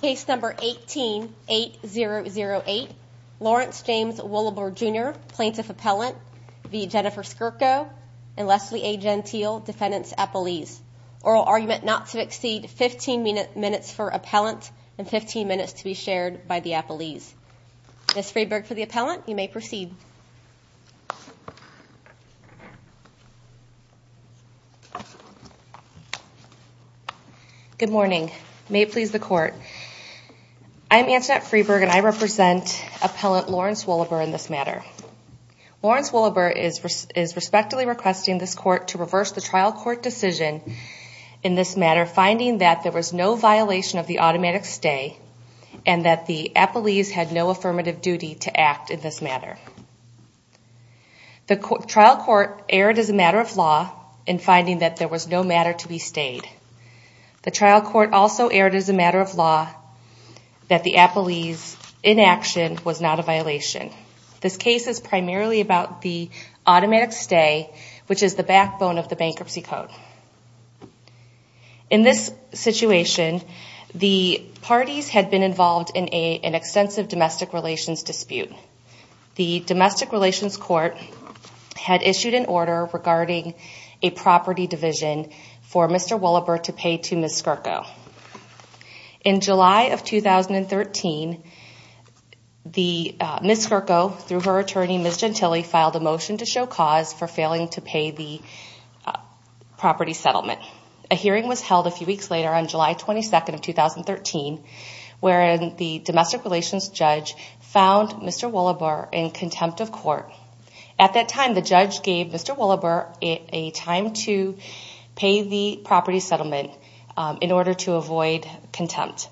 Plaintiff Appellant v. Jennifer Skirko and Leslie A. Gentile, Defendant's Appellees. Oral argument not to exceed 15 minutes for Appellant and 15 minutes to be shared by the Appellees. Ms. Freyberg for the Appellant, you may proceed. Good morning. May it please the Court. I'm Antoinette Freyberg and I represent Appellant Lawrence Wohleber in this matter. Lawrence Wohleber is respectfully requesting this Court to reverse the trial court decision in this matter, The trial court erred as a matter of law in finding that there was no matter to be stayed. The trial court also erred as a matter of law that the Appellee's inaction was not a violation. This case is primarily about the automatic stay, which is the backbone of the bankruptcy code. In this situation, the parties had been involved in an extensive domestic relations dispute. The Domestic Relations Court had issued an order regarding a property division for Mr. Wohleber to pay to Ms. Skirko. In July of 2013, Ms. Skirko, through her attorney Ms. Gentile, filed a motion to show cause for failing to pay the property settlement. A hearing was held a few weeks later on July 22nd of 2013, wherein the domestic relations judge found Mr. Wohleber in contempt of court. At that time, the judge gave Mr. Wohleber a time to pay the property settlement in order to avoid contempt.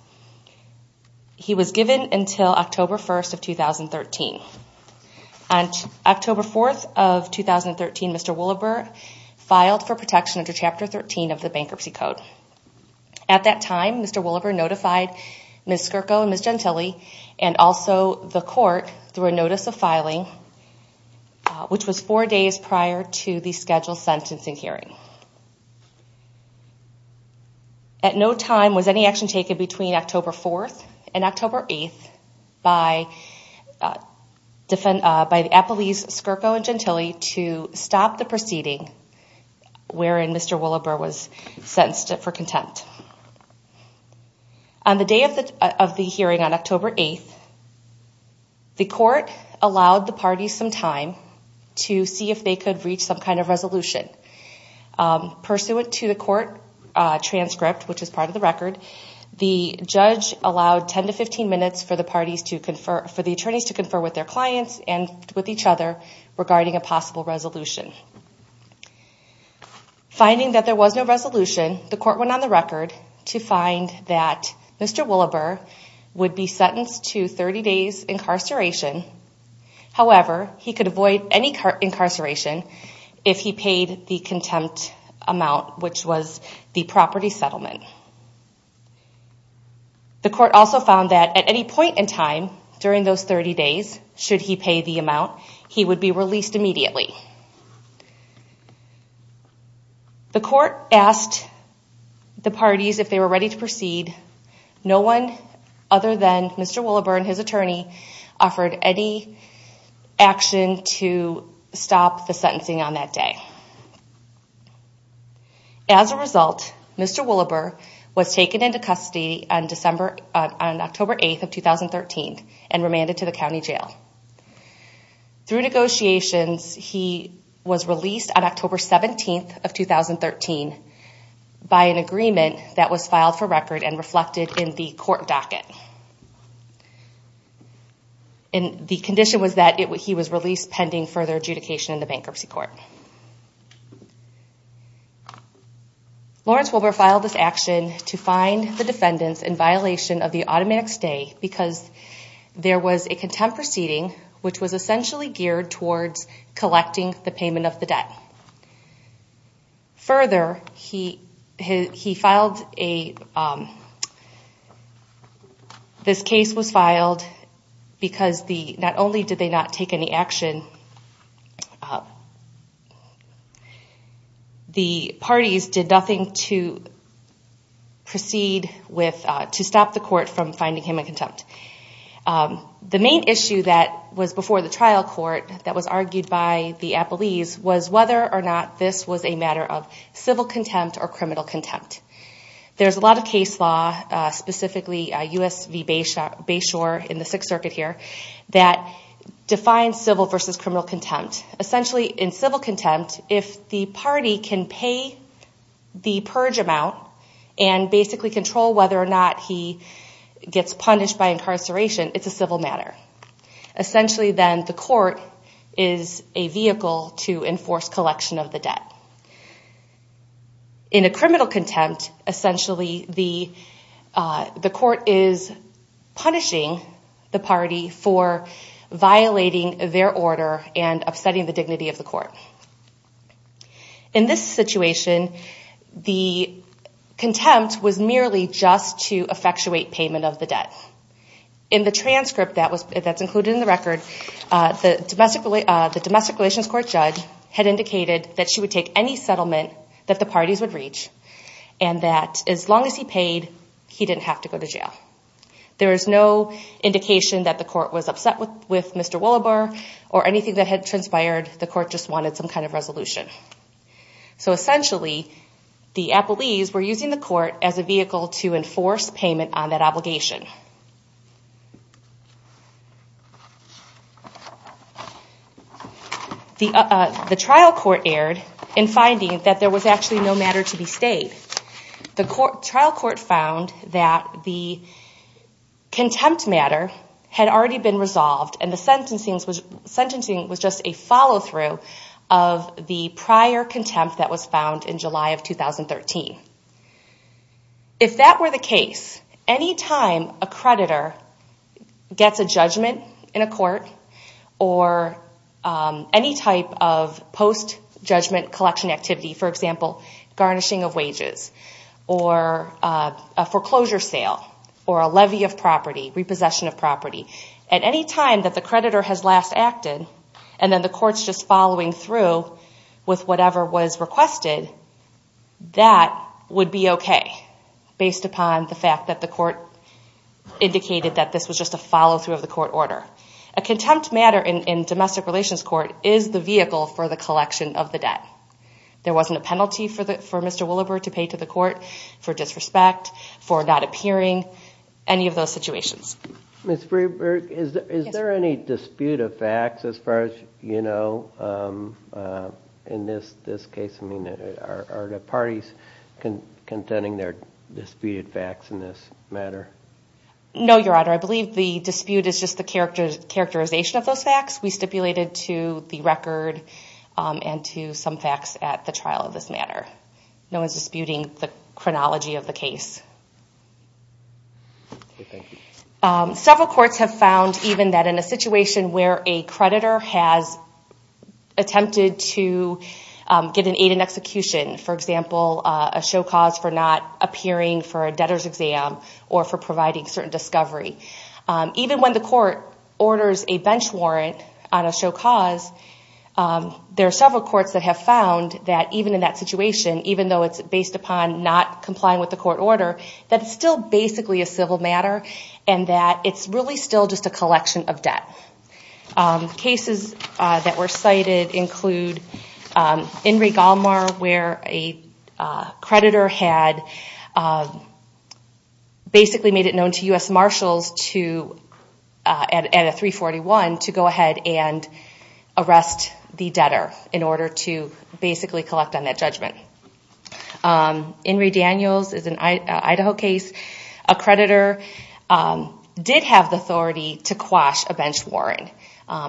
He was given until October 1st of 2013. On October 4th of 2013, Mr. Wohleber filed for protection under Chapter 13 of the Bankruptcy Code. At that time, Mr. Wohleber notified Ms. Skirko and Ms. Gentile and also the court through a notice of filing, which was four days prior to the scheduled sentencing hearing. At no time was any action taken between October 4th and October 8th by the appellees Skirko and Gentile to stop the proceeding, wherein Mr. Wohleber was sentenced for contempt. On the day of the hearing on October 8th, the court allowed the parties some time to see if they could reach some kind of resolution. Pursuant to the court transcript, which is part of the record, the judge allowed 10 to 15 minutes for the attorneys to confer with their clients and with each other regarding a possible resolution. Finding that there was no resolution, the court went on the record to find that Mr. Wohleber would be sentenced to 30 days incarceration. However, he could avoid any incarceration if he paid the contempt amount, which was the property settlement. The court also found that at any point in time during those 30 days, should he pay the amount, he would be released immediately. The court asked the parties if they were ready to proceed. No one other than Mr. Wohleber and his attorney offered any action to stop the sentencing on that day. As a result, Mr. Wohleber was taken into custody on October 8th of 2013 and remanded to the county jail. Through negotiations, he was released on October 17th of 2013 by an agreement that was filed for record and reflected in the court docket. The condition was that he was released pending further adjudication in the bankruptcy court. Lawrence Wohleber filed this action to fine the defendants in violation of the automatic stay because there was a contempt proceeding which was essentially geared towards collecting the payment of the debt. Further, this case was filed because not only did they not take any action, the parties did nothing to stop the court from finding him in contempt. The main issue that was before the trial court that was argued by the appellees was whether or not this was a matter of civil contempt or criminal contempt. There's a lot of case law, specifically US v. Bayshore in the Sixth Circuit here, that defines civil versus criminal contempt. Essentially, in civil contempt, if the party can pay the purge amount and basically control whether or not he gets punished by incarceration, it's a civil matter. Essentially, then, the court is a vehicle to enforce collection of the debt. In a criminal contempt, essentially, the court is punishing the party for violating their order and upsetting the dignity of the court. In this situation, the contempt was merely just to effectuate payment of the debt. In the transcript that's included in the record, the domestic relations court judge had indicated that she would take any settlement that the parties would reach and that as long as he paid, he didn't have to go to jail. There is no indication that the court was upset with Mr. Willebar or anything that had transpired. The court just wanted some kind of resolution. Essentially, the appellees were using the court as a vehicle to enforce payment on that obligation. The trial court erred in finding that there was actually no matter to be stayed. The trial court found that the contempt matter had already been resolved, and the sentencing was just a follow-through of the prior contempt that was found in July of 2013. If that were the case, any time a creditor gets a judgment in a court or any type of post-judgment collection activity, for example, garnishing of wages or a foreclosure sale or a levy of property, repossession of property, at any time that the creditor has last acted and then the court's just following through with whatever was requested, that would be okay based upon the fact that the court indicated that this was just a follow-through of the court order. A contempt matter in domestic relations court is the vehicle for the collection of the debt. There wasn't a penalty for Mr. Willebar to pay to the court for disrespect, for not appearing, any of those situations. Ms. Freberg, is there any dispute of facts as far as you know in this case? I mean, are the parties contending their disputed facts in this matter? No, Your Honor. I believe the dispute is just the characterization of those facts. We stipulated to the record and to some facts at the trial of this matter. No one's disputing the chronology of the case. Okay, thank you. Several courts have found even that in a situation where a creditor has attempted to get an aid in execution, for example, a show cause for not appearing for a debtor's exam or for providing certain discovery, even when the court orders a bench warrant on a show cause, there are several courts that have found that even in that situation, even though it's based upon not complying with the court order, that it's still basically a civil matter and that it's really still just a collection of debt. Cases that were cited include Enrique Almar where a creditor had basically made it known to U.S. Marshals at a 341 to go ahead and arrest the debtor in order to basically collect on that judgment. Enrique Daniels is an Idaho case. A creditor did have the authority to quash a bench warrant.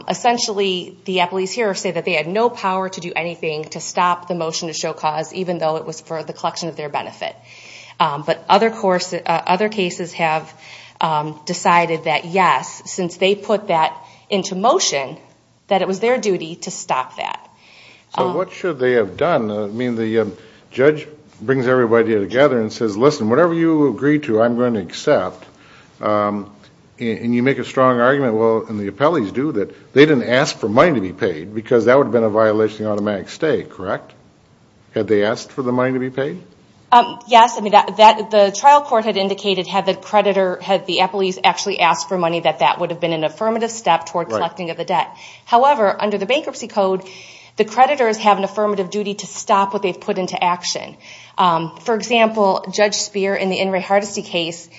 Essentially, the appellees here say that they had no power to do anything to stop the motion to show cause, even though it was for the collection of their benefit. But other cases have decided that, yes, since they put that into motion, that it was their duty to stop that. So what should they have done? I mean, the judge brings everybody together and says, listen, whatever you agree to, I'm going to accept. And you make a strong argument, well, and the appellees do, that they didn't ask for money to be paid because that would have been a violation of the automatic stay, correct? Had they asked for the money to be paid? Yes. I mean, the trial court had indicated had the creditor, had the appellees actually asked for money, that that would have been an affirmative step toward collecting of the debt. However, under the bankruptcy code, the creditors have an affirmative duty to stop what they've put into action. For example, Judge Speer in the Enrique Hardesty case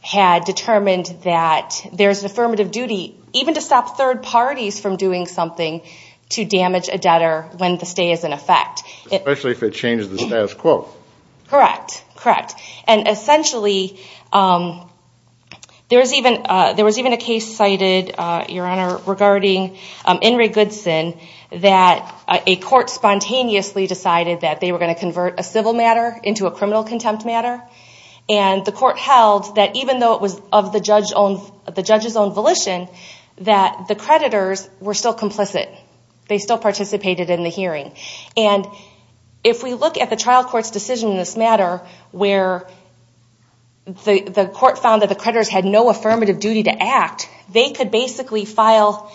had determined that there's an affirmative duty, even to stop third parties from doing something to damage a debtor when the stay is in effect. Especially if it changes the status quo. Correct. Correct. And essentially, there was even a case cited, Your Honor, regarding Enrique Goodson, that a court spontaneously decided that they were going to convert a civil matter into a criminal contempt matter. And the court held that even though it was of the judge's own volition, that the creditors were still complicit. They still participated in the hearing. And if we look at the trial court's decision in this matter, where the court found that the creditors had no affirmative duty to act, they could basically file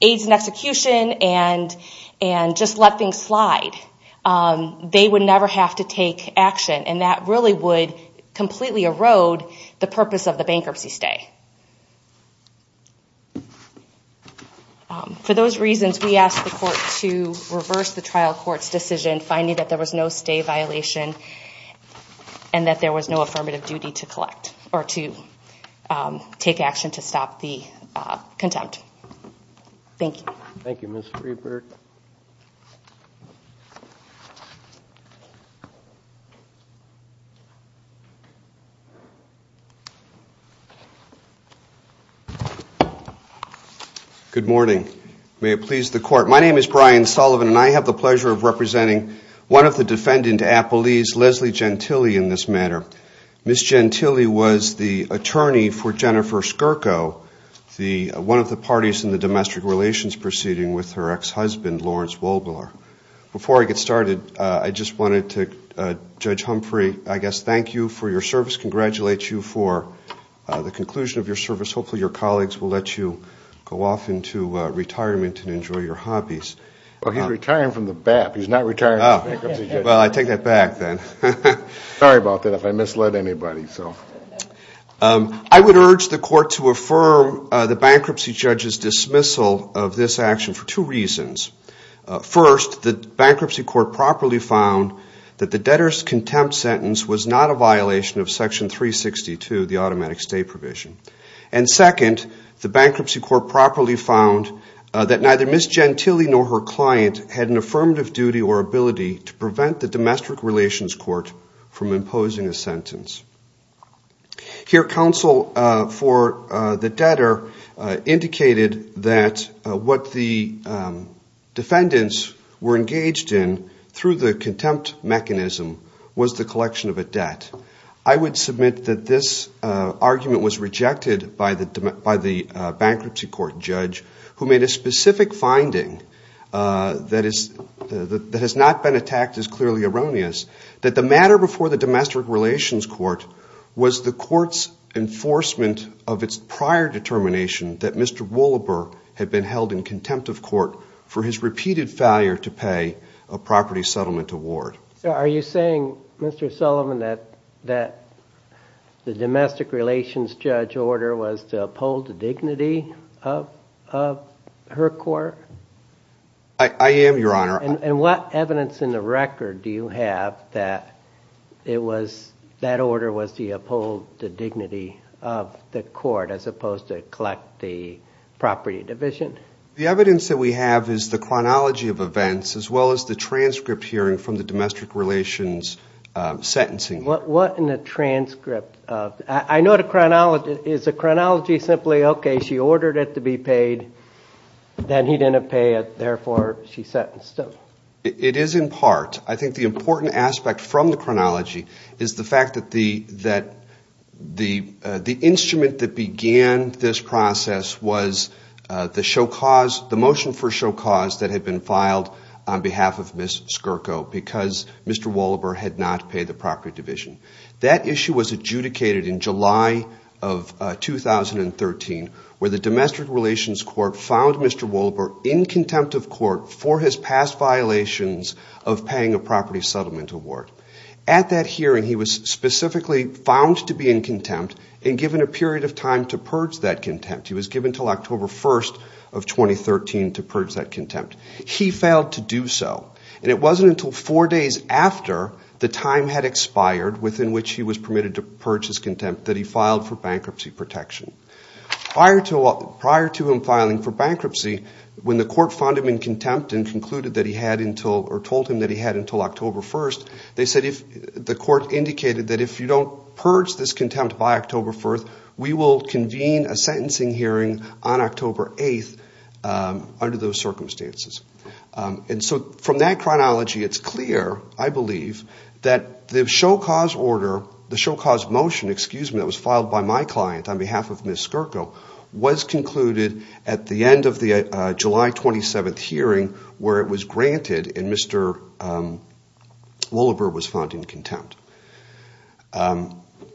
aides in execution and just let things slide. They would never have to take action. And that really would completely erode the purpose of the bankruptcy stay. For those reasons, we ask the court to reverse the trial court's decision, finding that there was no stay violation and that there was no affirmative duty to collect or to take action to stop the contempt. Thank you. Thank you, Ms. Friedberg. Thank you. Good morning. May it please the court, my name is Brian Sullivan, and I have the pleasure of representing one of the defendant appellees, Leslie Gentile, in this matter. Ms. Gentile was the attorney for Jennifer Skirko, one of the parties in the domestic relations proceeding with her ex-husband, Lawrence Wobler. Before I get started, I just wanted to, Judge Humphrey, I guess thank you for your service, congratulate you for the conclusion of your service. Hopefully your colleagues will let you go off into retirement and enjoy your hobbies. Well, he's retiring from the BAP. He's not retiring. Well, I take that back then. Sorry about that if I misled anybody. I would urge the court to affirm the bankruptcy judge's dismissal of this action for two reasons. First, the bankruptcy court properly found that the debtor's contempt sentence was not a violation of Section 362, the automatic stay provision. And second, the bankruptcy court properly found that neither Ms. Gentile nor her client had an affirmative duty or ability to prevent the domestic relations court from imposing a sentence. Here, counsel for the debtor indicated that what the defendants were engaged in through the contempt mechanism was the collection of a debt. I would submit that this argument was rejected by the bankruptcy court judge, who made a specific finding that has not been attacked as clearly erroneous, that the matter before the domestic relations court was the court's enforcement of its prior determination that Mr. Wohlberg had been held in contempt of court for his repeated failure to pay a property settlement award. So are you saying, Mr. Sullivan, that the domestic relations judge's order was to uphold the dignity of her court? I am, Your Honor. And what evidence in the record do you have that that order was to uphold the dignity of the court as opposed to collect the property division? The evidence that we have is the chronology of events, as well as the transcript hearing from the domestic relations sentencing hearing. What in the transcript? I know the chronology. Is the chronology simply, okay, she ordered it to be paid, then he didn't pay it, therefore she sentenced him? It is in part. I think the important aspect from the chronology is the fact that the instrument that began this process was the motion for show cause that had been filed on behalf of Ms. Skirko because Mr. Wohlberg had not paid the property division. That issue was adjudicated in July of 2013, where the domestic relations court found Mr. Wohlberg in contempt of court for his past violations of paying a property settlement award. At that hearing, he was specifically found to be in contempt and given a period of time to purge that contempt. He was given until October 1st of 2013 to purge that contempt. He failed to do so, and it wasn't until four days after the time had expired within which he was permitted to purge his contempt that he filed for bankruptcy protection. Prior to him filing for bankruptcy, when the court found him in contempt and told him that he had until October 1st, the court indicated that if you don't purge this contempt by October 1st, we will convene a sentencing hearing on October 8th under those circumstances. From that chronology, it's clear, I believe, that the show cause motion that was filed by my client on behalf of Ms. Skirko was concluded at the end of the July 27th hearing where it was granted and Mr. Wohlberg was found in contempt.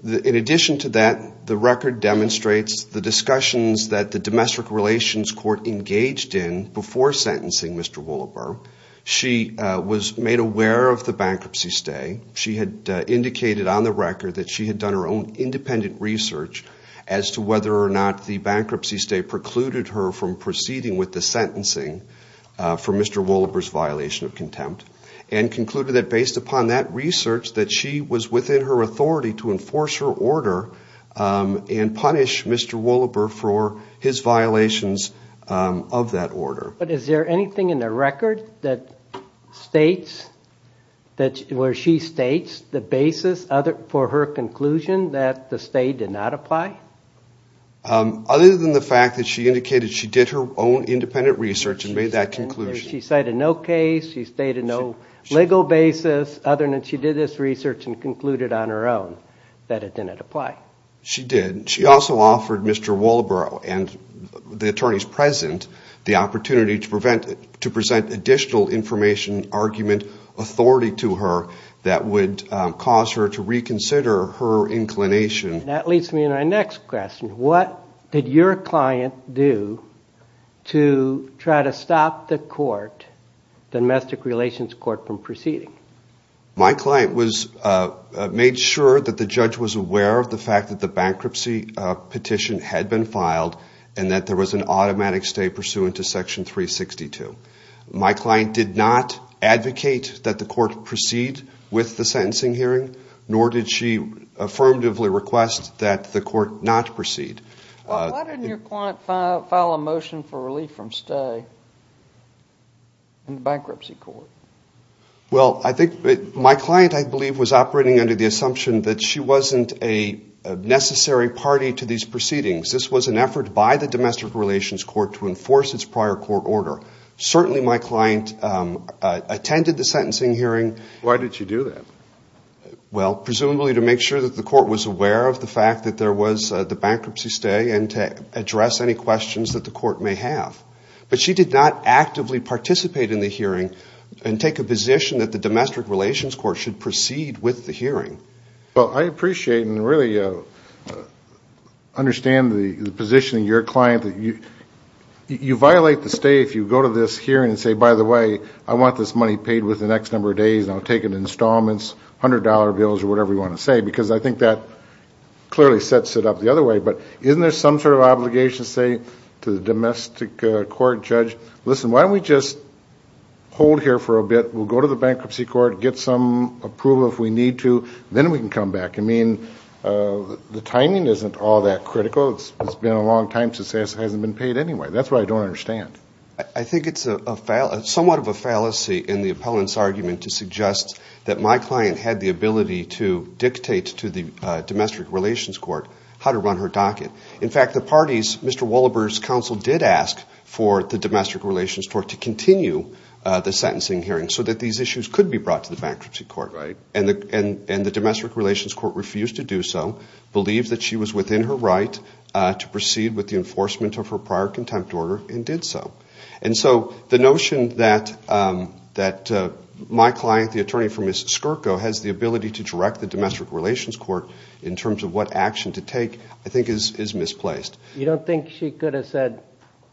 In addition to that, the record demonstrates the discussions that the Domestic Relations Court engaged in before sentencing Mr. Wohlberg. She was made aware of the bankruptcy stay. She had indicated on the record that she had done her own independent research as to whether or not the bankruptcy stay precluded her from proceeding with the sentencing for Mr. Wohlberg's violation of contempt, and concluded that based upon that research that she was within her authority to enforce her order and punish Mr. Wohlberg for his violations of that order. But is there anything in the record where she states the basis for her conclusion that the stay did not apply? Other than the fact that she indicated she did her own independent research and made that conclusion. She stated no case, she stated no legal basis other than she did this research and concluded on her own that it didn't apply. She did. She also offered Mr. Wohlberg and the attorneys present the opportunity to present additional information, argument, authority to her that would cause her to reconsider her inclination. And that leads me to my next question. What did your client do to try to stop the court, the Domestic Relations Court, from proceeding? My client made sure that the judge was aware of the fact that the bankruptcy petition had been filed and that there was an automatic stay pursuant to Section 362. My client did not advocate that the court proceed with the sentencing hearing, nor did she affirmatively request that the court not proceed. Why didn't your client file a motion for relief from stay in the bankruptcy court? Well, I think my client, I believe, was operating under the assumption that she wasn't a necessary party to these proceedings. This was an effort by the Domestic Relations Court to enforce its prior court order. Certainly my client attended the sentencing hearing. Why did she do that? Well, presumably to make sure that the court was aware of the fact that there was the bankruptcy stay and to address any questions that the court may have. But she did not actively participate in the hearing and take a position that the Domestic Relations Court should proceed with the hearing. Well, I appreciate and really understand the position of your client. You violate the stay if you go to this hearing and say, by the way, I want this money paid within the next number of days and I'll take it to installments, $100 bills, or whatever you want to say. Because I think that clearly sets it up the other way. But isn't there some sort of obligation to say to the domestic court judge, listen, why don't we just hold here for a bit? We'll go to the bankruptcy court, get some approval if we need to, then we can come back. I mean, the timing isn't all that critical. It's been a long time since this hasn't been paid anyway. That's what I don't understand. I think it's somewhat of a fallacy in the opponent's argument to suggest that my client had the ability to dictate to the Domestic Relations Court how to run her docket. In fact, the parties, Mr. Wallaber's counsel did ask for the Domestic Relations Court to continue the sentencing hearing so that these issues could be brought to the bankruptcy court. And the Domestic Relations Court refused to do so, believed that she was within her right to proceed with the enforcement of her prior contempt order, and did so. And so the notion that my client, the attorney for Ms. Skirko, has the ability to direct the Domestic Relations Court in terms of what action to take, I think is a little bit of a fallacy. You don't think she could have said,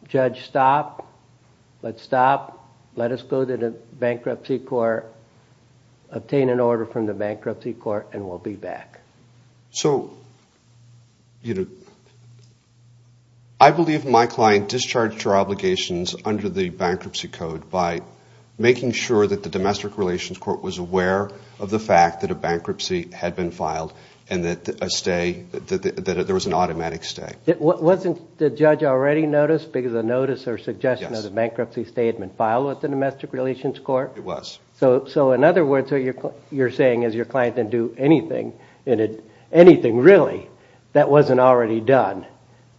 Judge, stop, let's stop, let us go to the bankruptcy court, obtain an order from the bankruptcy court, and we'll be back? So, you know, I believe my client discharged her obligations under the bankruptcy code by making sure that the Domestic Relations Court was aware of the fact that a bankruptcy had been filed and that there was an automatic stay. Wasn't the judge already noticed because a notice or suggestion of the bankruptcy statement filed with the Domestic Relations Court? It was. So in other words, you're saying as your client didn't do anything, anything really, that wasn't already done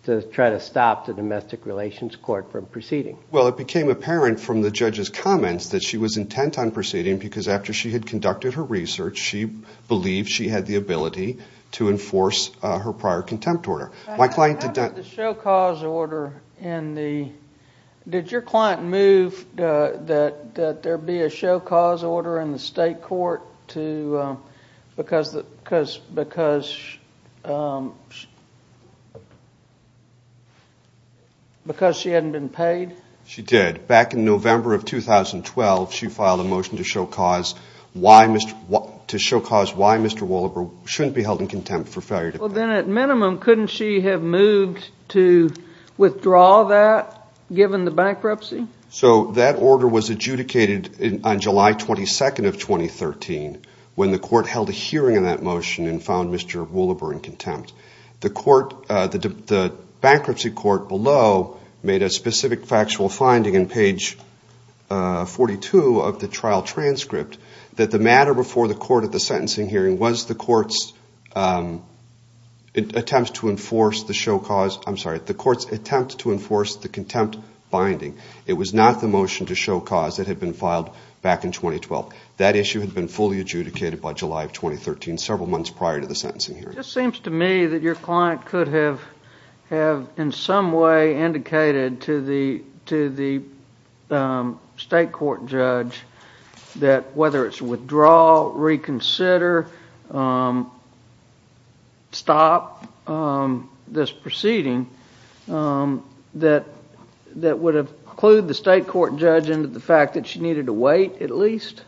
to try to stop the Domestic Relations Court from proceeding? Well, it became apparent from the judge's comments that she was intent on proceeding because after she had conducted her research, she believed she had the ability to enforce her prior contempt order. How about the show cause order in the, did your client move that there be a show cause order in the state court because she hadn't been paid? She did. Back in November of 2012, she filed a motion to show cause why Mr. Wohlberg shouldn't be held in contempt for failure to pay. Well, then at minimum, couldn't she have moved to withdraw that given the bankruptcy? So that order was adjudicated on July 22nd of 2013 when the court held a hearing on that motion and found Mr. Wohlberg in contempt. The bankruptcy court below made a specific factual finding in page 42 of the trial transcript that the matter before the court at the sentencing hearing was the court's intent to withdraw the bankruptcy order. It attempts to enforce the show cause, I'm sorry, the court's attempt to enforce the contempt finding. It was not the motion to show cause that had been filed back in 2012. That issue had been fully adjudicated by July of 2013, several months prior to the sentencing hearing. It just seems to me that your client could have in some way indicated to the state court judge that whether it's withdraw, reconsider, stop the bankruptcy order, stop this proceeding, that would have clued the state court judge into the fact that she needed to wait at least?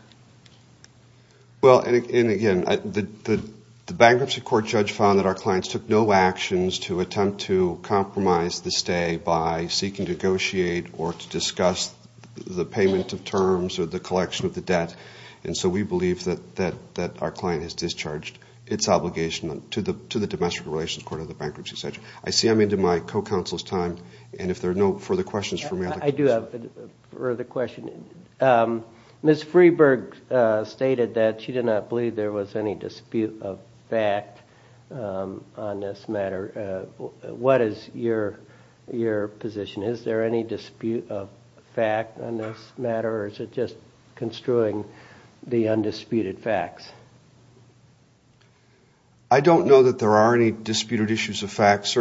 Well, and again, the bankruptcy court judge found that our clients took no actions to attempt to compromise the stay by seeking to negotiate or to discuss the payment of terms or the collection of the debt. And so we believe that our client has discharged its obligation to the domestic relations court of the bankruptcy section. I see I'm into my co-counsel's time and if there are no further questions for me. I do have a further question. Ms. Freeburg stated that she did not believe there was any dispute of fact on this matter. What is your position? Is there any dispute of fact on this matter, or is it just construing the undisputed facts? I don't know that there are any disputed issues of fact.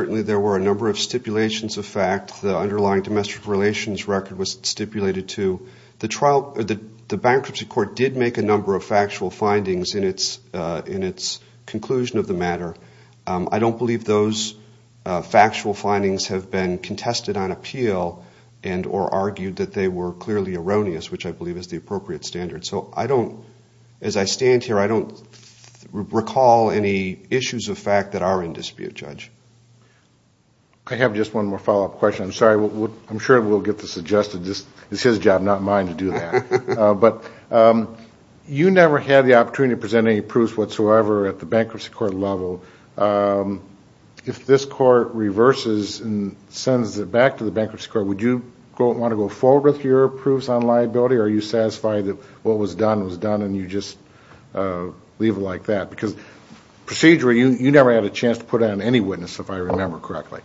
The bankruptcy court did make a number of factual findings in its conclusion of the matter. I don't believe those factual findings have been contested on appeal and or argued that they were clearly erroneous, which I believe is the appropriate standard. So I don't, as I stand here, I don't recall any issues of fact that are in dispute, Judge. I have just one more follow-up question. I'm sorry, I'm sure we'll get this adjusted. It's his job, not mine, to do that. But you never had the opportunity to present any proofs whatsoever at the bankruptcy court level. If this court reverses and sends it back to the bankruptcy court, would you want to go forward with your proofs on liability? Are you satisfied that what was done was done and you just leave it like that? Because procedurally, you never had a chance to put on any witness, if I remember correctly.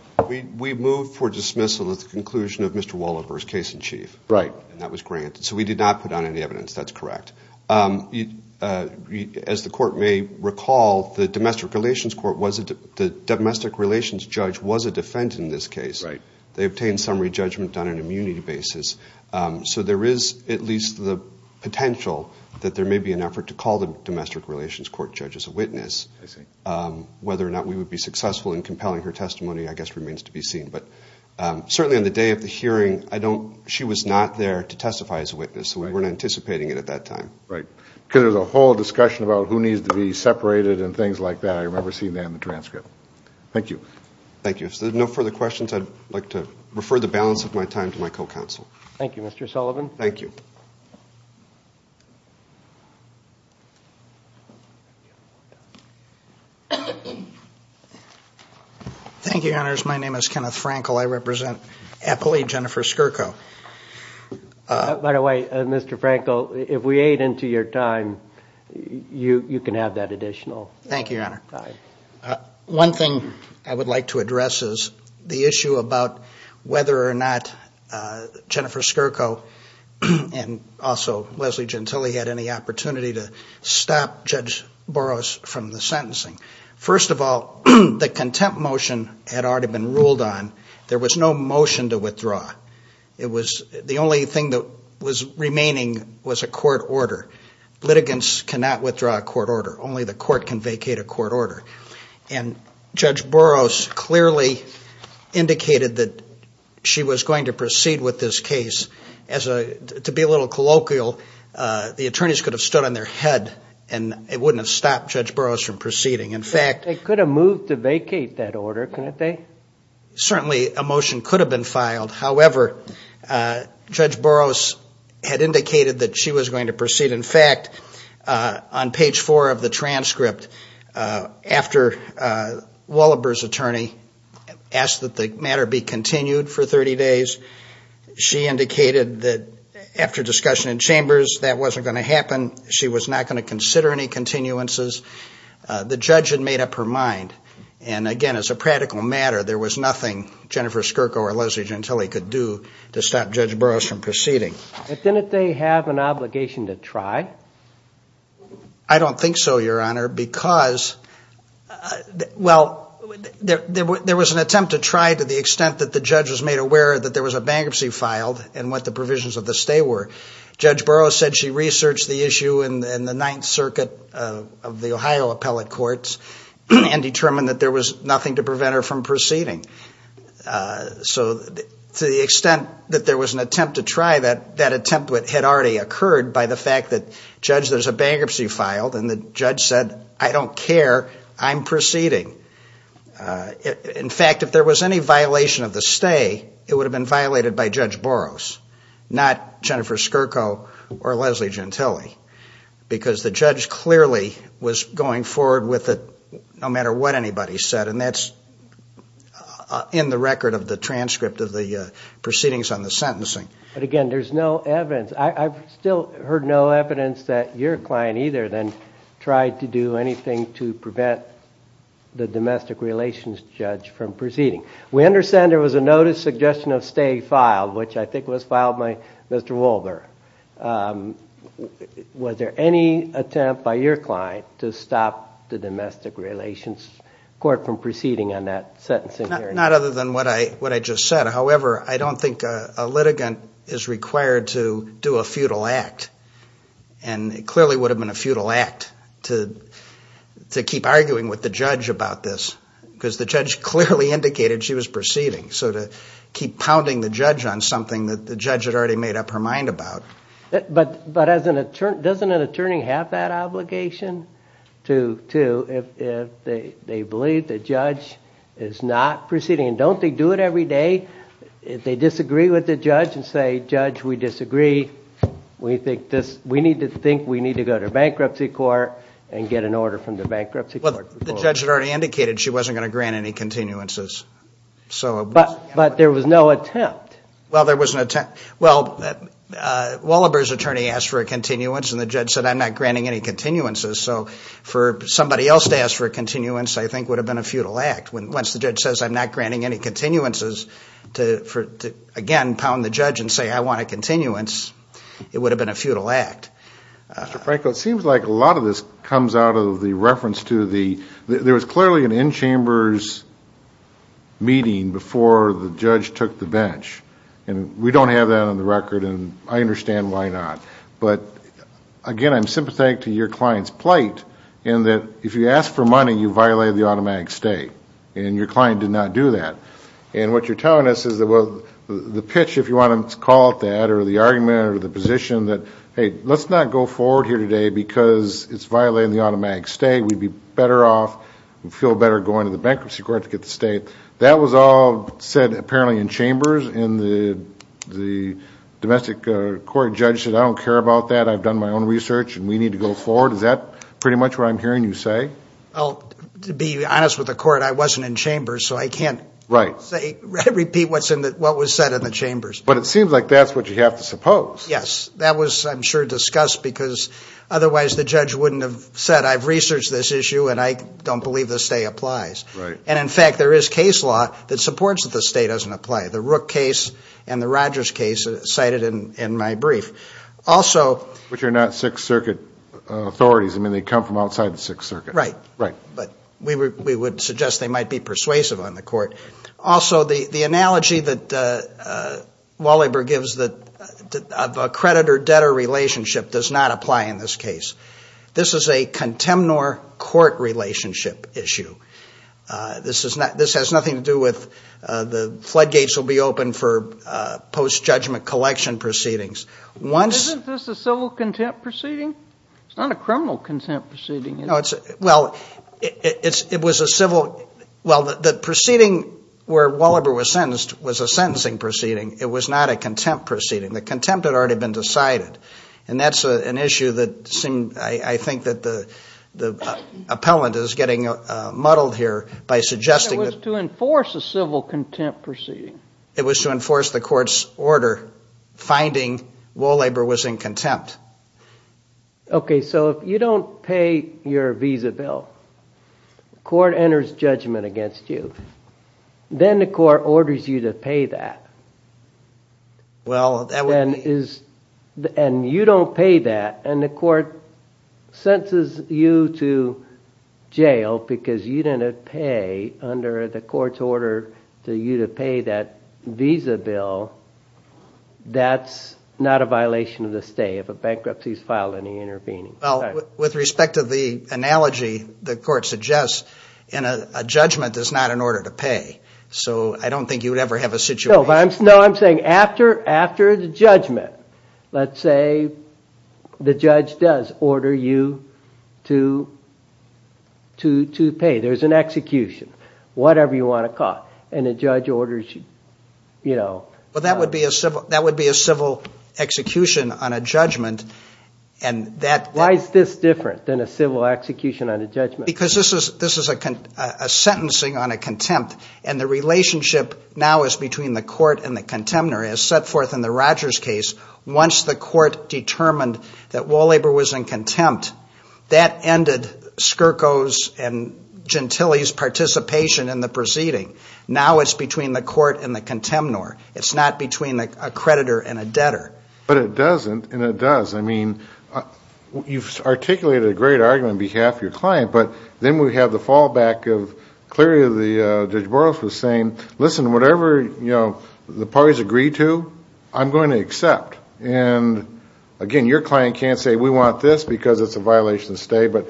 We moved for dismissal at the conclusion of Mr. Walloper's case in chief, and that was granted. So we did not put on any evidence, that's correct. As the court may recall, the domestic relations judge was a defendant in this case. They obtained summary judgment on an immunity basis. So there is at least the potential that there may be an effort to call the domestic relations court judge as a witness. Whether or not we would be successful in compelling her testimony, I guess, remains to be seen. But certainly on the day of the hearing, she was not there to testify as a witness, so we weren't anticipating it at that time. There was a whole discussion about who needs to be separated and things like that. I remember seeing that in the transcript. Thank you. If there are no further questions, I would like to refer the balance of my time to my co-counsel. Thank you, Your Honors. My name is Kenneth Frankel. I represent Appalachian for SCRCO. By the way, Mr. Frankel, if we aid into your time, you can have that additional time. One thing I would like to address is the issue about whether or not Jennifer Skirko and also Leslie Gentile had any opportunity to stop Judge Boros from the sentencing. First of all, the contempt motion had already been ruled on. There was no motion to withdraw. The only thing that was remaining was a court order. Litigants cannot withdraw a court order. Only the court can vacate a court order. And Judge Boros clearly indicated that she was going to proceed with this case. To be a little colloquial, the attorneys could have stood on their head and it wouldn't have stopped Judge Boros from proceeding. They could have moved to vacate that order, couldn't they? Certainly, a motion could have been filed. However, Judge Boros had indicated that she was going to proceed. In fact, on page four of the transcript, after Wallenberg's attorney asked that the matter be continued for 30 days, she indicated that after discussion in chambers that wasn't going to happen. She was not going to consider any continuances. The judge had made up her mind. And again, as a practical matter, there was nothing Jennifer Skirko or Leslie Gentile could do to stop Judge Boros from proceeding. Didn't they have an obligation to try? I don't think so, Your Honor, because there was an attempt to try to the extent that the judge was made aware that there was a bankruptcy filed and what the provisions of the stay were. Judge Boros said she researched the issue in the Ninth Circuit of the Ohio Appellate Courts and determined that there was nothing to prevent her from proceeding. So to the extent that there was an attempt to try, that attempt had already occurred by the fact that, Judge, there's a bankruptcy filed and the judge said, I don't care, I'm proceeding. In fact, if there was any violation of the stay, it would have been violated by Judge Boros, not Jennifer Skirko. Or Leslie Gentile. Because the judge clearly was going forward with it no matter what anybody said. And that's in the record of the transcript of the proceedings on the sentencing. But again, there's no evidence. I've still heard no evidence that your client either then tried to do anything to prevent the domestic relations judge from proceeding. We understand there was a notice suggestion of stay filed, which I think was filed by Mr. Wolber. Was there any attempt by your client to stop the domestic relations court from proceeding on that sentencing hearing? Not other than what I just said. However, I don't think a litigant is required to do a futile act. And it clearly would have been a futile act to keep arguing with the judge about this. Because the judge clearly indicated she was proceeding. But doesn't an attorney have that obligation, too, if they believe the judge is not proceeding? And don't they do it every day? If they disagree with the judge and say, judge, we disagree. We need to think we need to go to bankruptcy court and get an order from the bankruptcy court. But the judge had already indicated she wasn't going to grant any continuances. But there was no attempt. Well, there was an attempt. Well, Wolber's attorney asked for a continuance and the judge said, I'm not granting any continuances. So for somebody else to ask for a continuance, I think, would have been a futile act. Once the judge says, I'm not granting any continuances, to again pound the judge and say, I want a continuance, it would have been a futile act. Dr. Franco, it seems like a lot of this comes out of the reference to the, there was clearly an in-chambers meeting before the judge took the bench. And we don't have that on the record and I understand why not. But again, I'm sympathetic to your client's plight in that if you ask for money, you violate the automatic stay. And your client did not do that. And what you're telling us is the pitch, if you want to call it that, or the argument or the position that, hey, let's not go forward here today because it's violating the automatic stay. We'd be better off and feel better going to the bankruptcy court to get the stay. That was all said apparently in chambers and the domestic court judge said, I don't care about that. I've done my own research and we need to go forward. Is that pretty much what I'm hearing you say? To be honest with the court, I wasn't in chambers so I can't repeat what was said in the chambers. But it seems like that's what you have to suppose. Yes, that was I'm sure discussed because otherwise the judge wouldn't have said, I've researched this issue and I don't believe the stay applies. And in fact, there is case law that supports that the stay doesn't apply. The Rook case and the Rogers case cited in my brief. Which are not Sixth Circuit authorities. Right, but we would suggest they might be persuasive on the court. Also, the analogy that Waliber gives of a creditor-debtor relationship does not apply in this case. This is a contemnor-court relationship issue. This has nothing to do with the floodgates will be open for post-judgment collection proceedings. Isn't this a civil contempt proceeding? It's not a criminal contempt proceeding. Well, the proceeding where Waliber was sentenced was a sentencing proceeding. It was not a contempt proceeding. The contempt had already been decided. And that's an issue that I think the appellant is getting muddled here. It was to enforce a civil contempt proceeding. It was to enforce the court's order finding Waliber was in contempt. Okay, so if you don't pay your visa bill, the court enters judgment against you. Then the court orders you to pay that. And you don't pay that. And the court sentences you to jail because you didn't pay under the court's order for you to pay that visa bill. That's not a violation of the stay. If a bankruptcy is filed and he intervenes. Well, with respect to the analogy the court suggests, a judgment is not an order to pay. So I don't think you would ever have a situation. No, I'm saying after the judgment, let's say the judge does order you to pay. There's an execution. Whatever you want to cost. Well, that would be a civil execution on a judgment. Why is this different than a civil execution on a judgment? Because this is a sentencing on a contempt. And the relationship now is between the court and the contemnor as set forth in the Rogers case. Once the court determined that Wallaber was in contempt, that ended Skirko's and Gentile's participation in the proceeding. Now it's between the court and the contemnor. It's not between a creditor and a debtor. But it doesn't, and it does. I mean, you've articulated a great argument on behalf of your client. But then we have the fallback of clearly Judge Burroughs was saying, listen, whatever the parties agree to, I'm going to accept. And again, your client can't say we want this because it's a violation of stay. But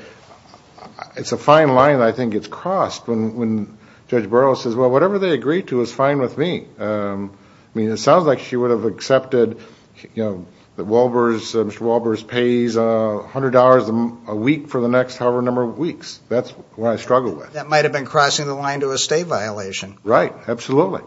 it's a fine line that I think gets crossed when Judge Burroughs says, well, whatever they agree to is fine with me. I mean, it sounds like she would have accepted that Mr. Wallabers pays $100 a week for the next however number of weeks. That's what I struggle with. That might have been crossing the line to a stay violation. Right. Absolutely.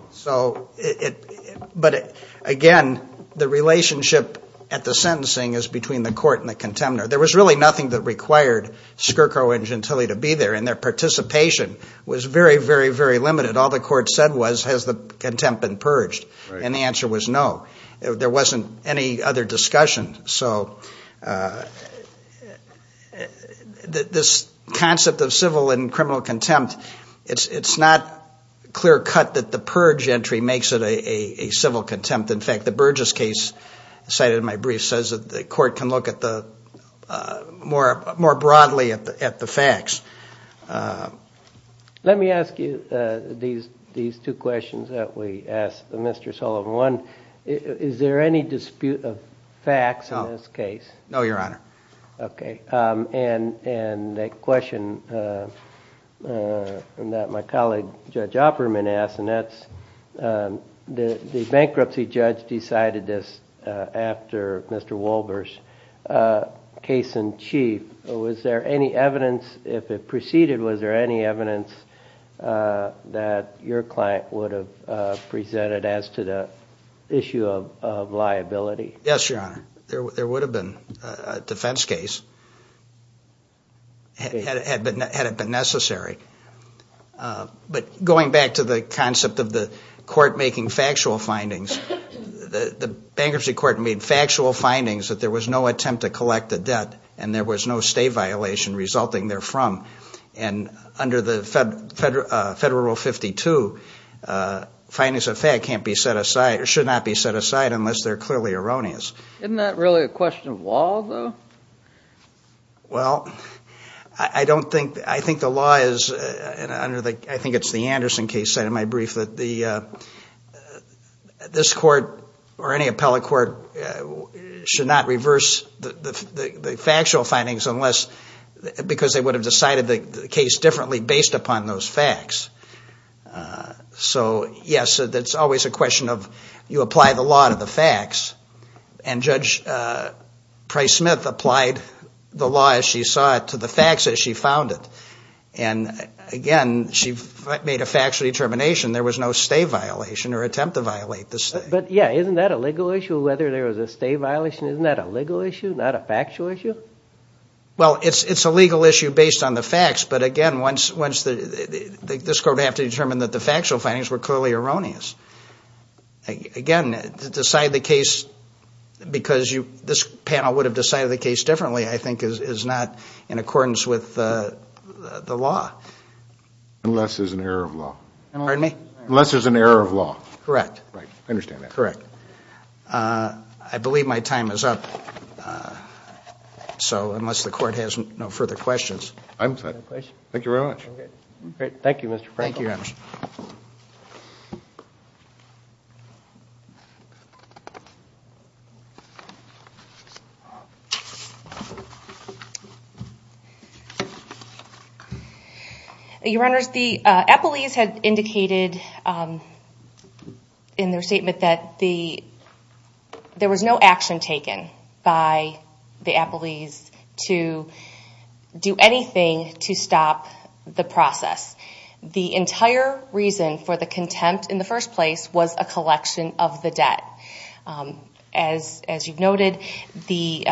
But again, the relationship at the sentencing is between the court and the contemnor. There was really nothing that required Skirko and Gentile to be there, and their participation was very, very, very limited. All the court said was, has the contempt been purged? And the answer was no. There wasn't any other discussion. So this concept of civil and criminal contempt, it's not clear cut that the purge entry makes it a civil contempt. In fact, the Burgess case cited in my brief says that the court can look more broadly at the facts. Let me ask you these two questions that we asked Mr. Sullivan. One, is there any dispute of facts in this case? No, Your Honor. Okay. And the question that my colleague, Judge Opperman, asked, and that's the bankruptcy judge decided this after Mr. Wallabers' case in chief. Was there any evidence, if it preceded, was there any evidence that your client would have presented an issue of liability? Yes, Your Honor. There would have been a defense case, had it been necessary. But going back to the concept of the court making factual findings, the bankruptcy court made factual findings that there was no attempt to collect the debt, and there was no stay violation resulting therefrom. And under Federal Rule 52, findings of fact can't be set aside, or should not be set aside, unless they're clearly erroneous. Isn't that really a question of law, though? Well, I don't think, I think the law is, and I think it's the Anderson case cited in my brief, that this court, or any appellate court, should not reverse the factual findings unless, because they would have decided that there was no attempt to collect the debt. They would have decided the case differently based upon those facts. So, yes, it's always a question of you apply the law to the facts, and Judge Price-Smith applied the law as she saw it to the facts as she found it. And, again, she made a factual determination there was no stay violation or attempt to violate the stay. But, yeah, isn't that a legal issue, whether there was a stay violation? Isn't that a legal issue, not a factual issue? Well, it's a legal issue based on the facts, but, again, this court would have to determine that the factual findings were clearly erroneous. Again, to decide the case because this panel would have decided the case differently, I think, is not in accordance with the law. Unless there's an error of law. Correct. I understand that. I believe my time is up, so unless the court has no further questions. Thank you very much. Thank you, Mr. Franklin. Thank you, Your Honors. Your Honors, the appellees had indicated in their statement that there was no action taken by the appellees to do anything to stop the process. The entire reason for the contempt in the first place was a collection of the debt. As you've noted, the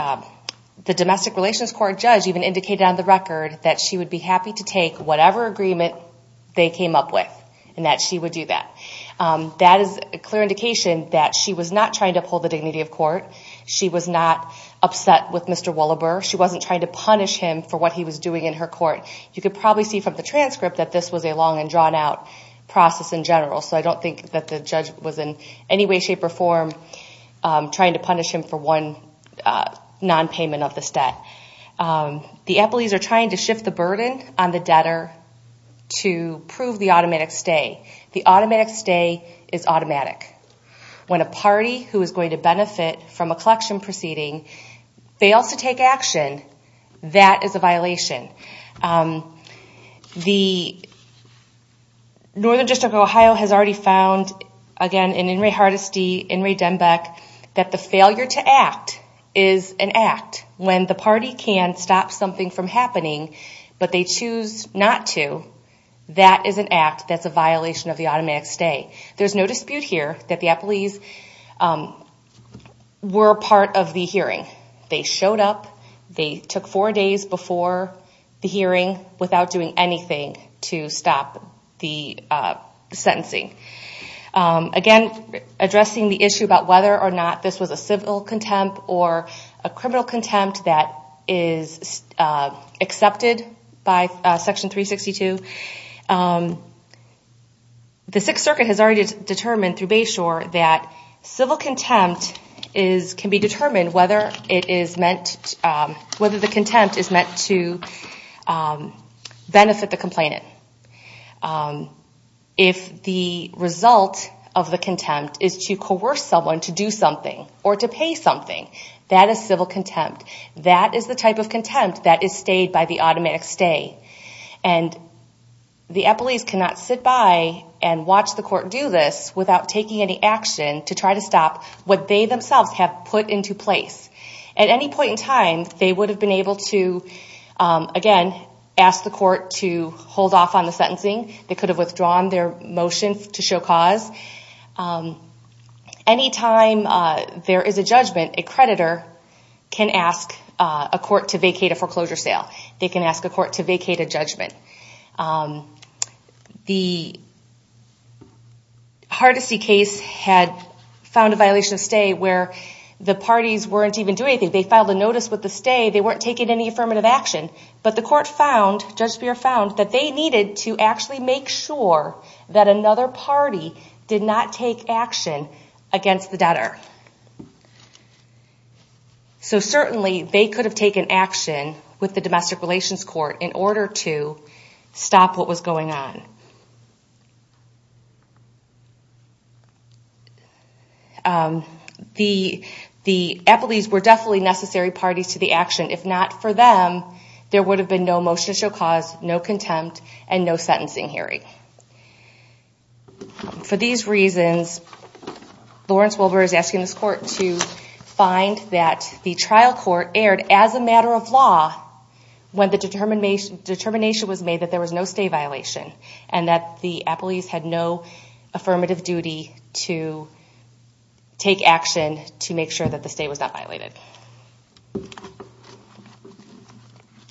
domestic relations court judge even indicated on the record that she would be happy to take whatever agreement they came up with and that she would do that. That is a clear indication that she was not trying to uphold the dignity of court. She was not upset with Mr. Willebur. She wasn't trying to punish him for what he was doing in her court. You can probably see from the transcript that this was a long and drawn-out process in general. I don't think that the judge was in any way, shape, or form trying to punish him for one non-payment of this debt. The appellees are trying to shift the burden on the debtor to prove the automatic stay. The automatic stay is automatic. When a party who is going to benefit from a collection proceeding fails to take action, that is a violation. The Northern District of Ohio has already found, again, in In re Hardesty, in re Denbeck, that the failure to act is an act. When the party can stop something from happening, but they choose not to, that is an act. That is a violation of the automatic stay. There is no dispute here that the appellees were part of the hearing. They showed up. They took four days before the hearing without doing anything to stop the sentencing. Again, addressing the issue about whether or not this was a civil contempt or a criminal contempt that is accepted by Section 362, the Sixth Circuit has already determined through Bayshore that civil contempt can be determined whether the contempt is meant to benefit the complainant. If the result of the contempt is to coerce someone to do something or to pay something, that is civil contempt. That is the type of contempt that is stayed by the automatic stay. The appellees cannot sit by and watch the court do this without taking any action to try to stop what they themselves have put into place. At any point in time, they would have been able to, again, ask the court to hold off on the sentencing. They could have withdrawn their motion to show cause. Any time there is a judgment, a creditor can ask a court to vacate a foreclosure sale. They can ask a court to vacate a judgment. The Hardesty case had found a violation of stay where the parties weren't even doing anything. They filed a notice with the stay. They weren't taking any affirmative action. But the court found, Judge Speier found, that they needed to actually make sure that another party did not take action against the debtor. So certainly, they could have taken action with the Domestic Relations Court in order to stop what was going on. The appellees were definitely necessary parties to the action. If not for them, there would have been no motion to show cause, no contempt, and no sentencing hearing. For these reasons, Lawrence Wilbur is asking this court to find that the trial court erred as a matter of law when the determination was made that there was no stay violation. And that the appellees had no affirmative duty to take action to make sure that the stay was not violated. Thank you.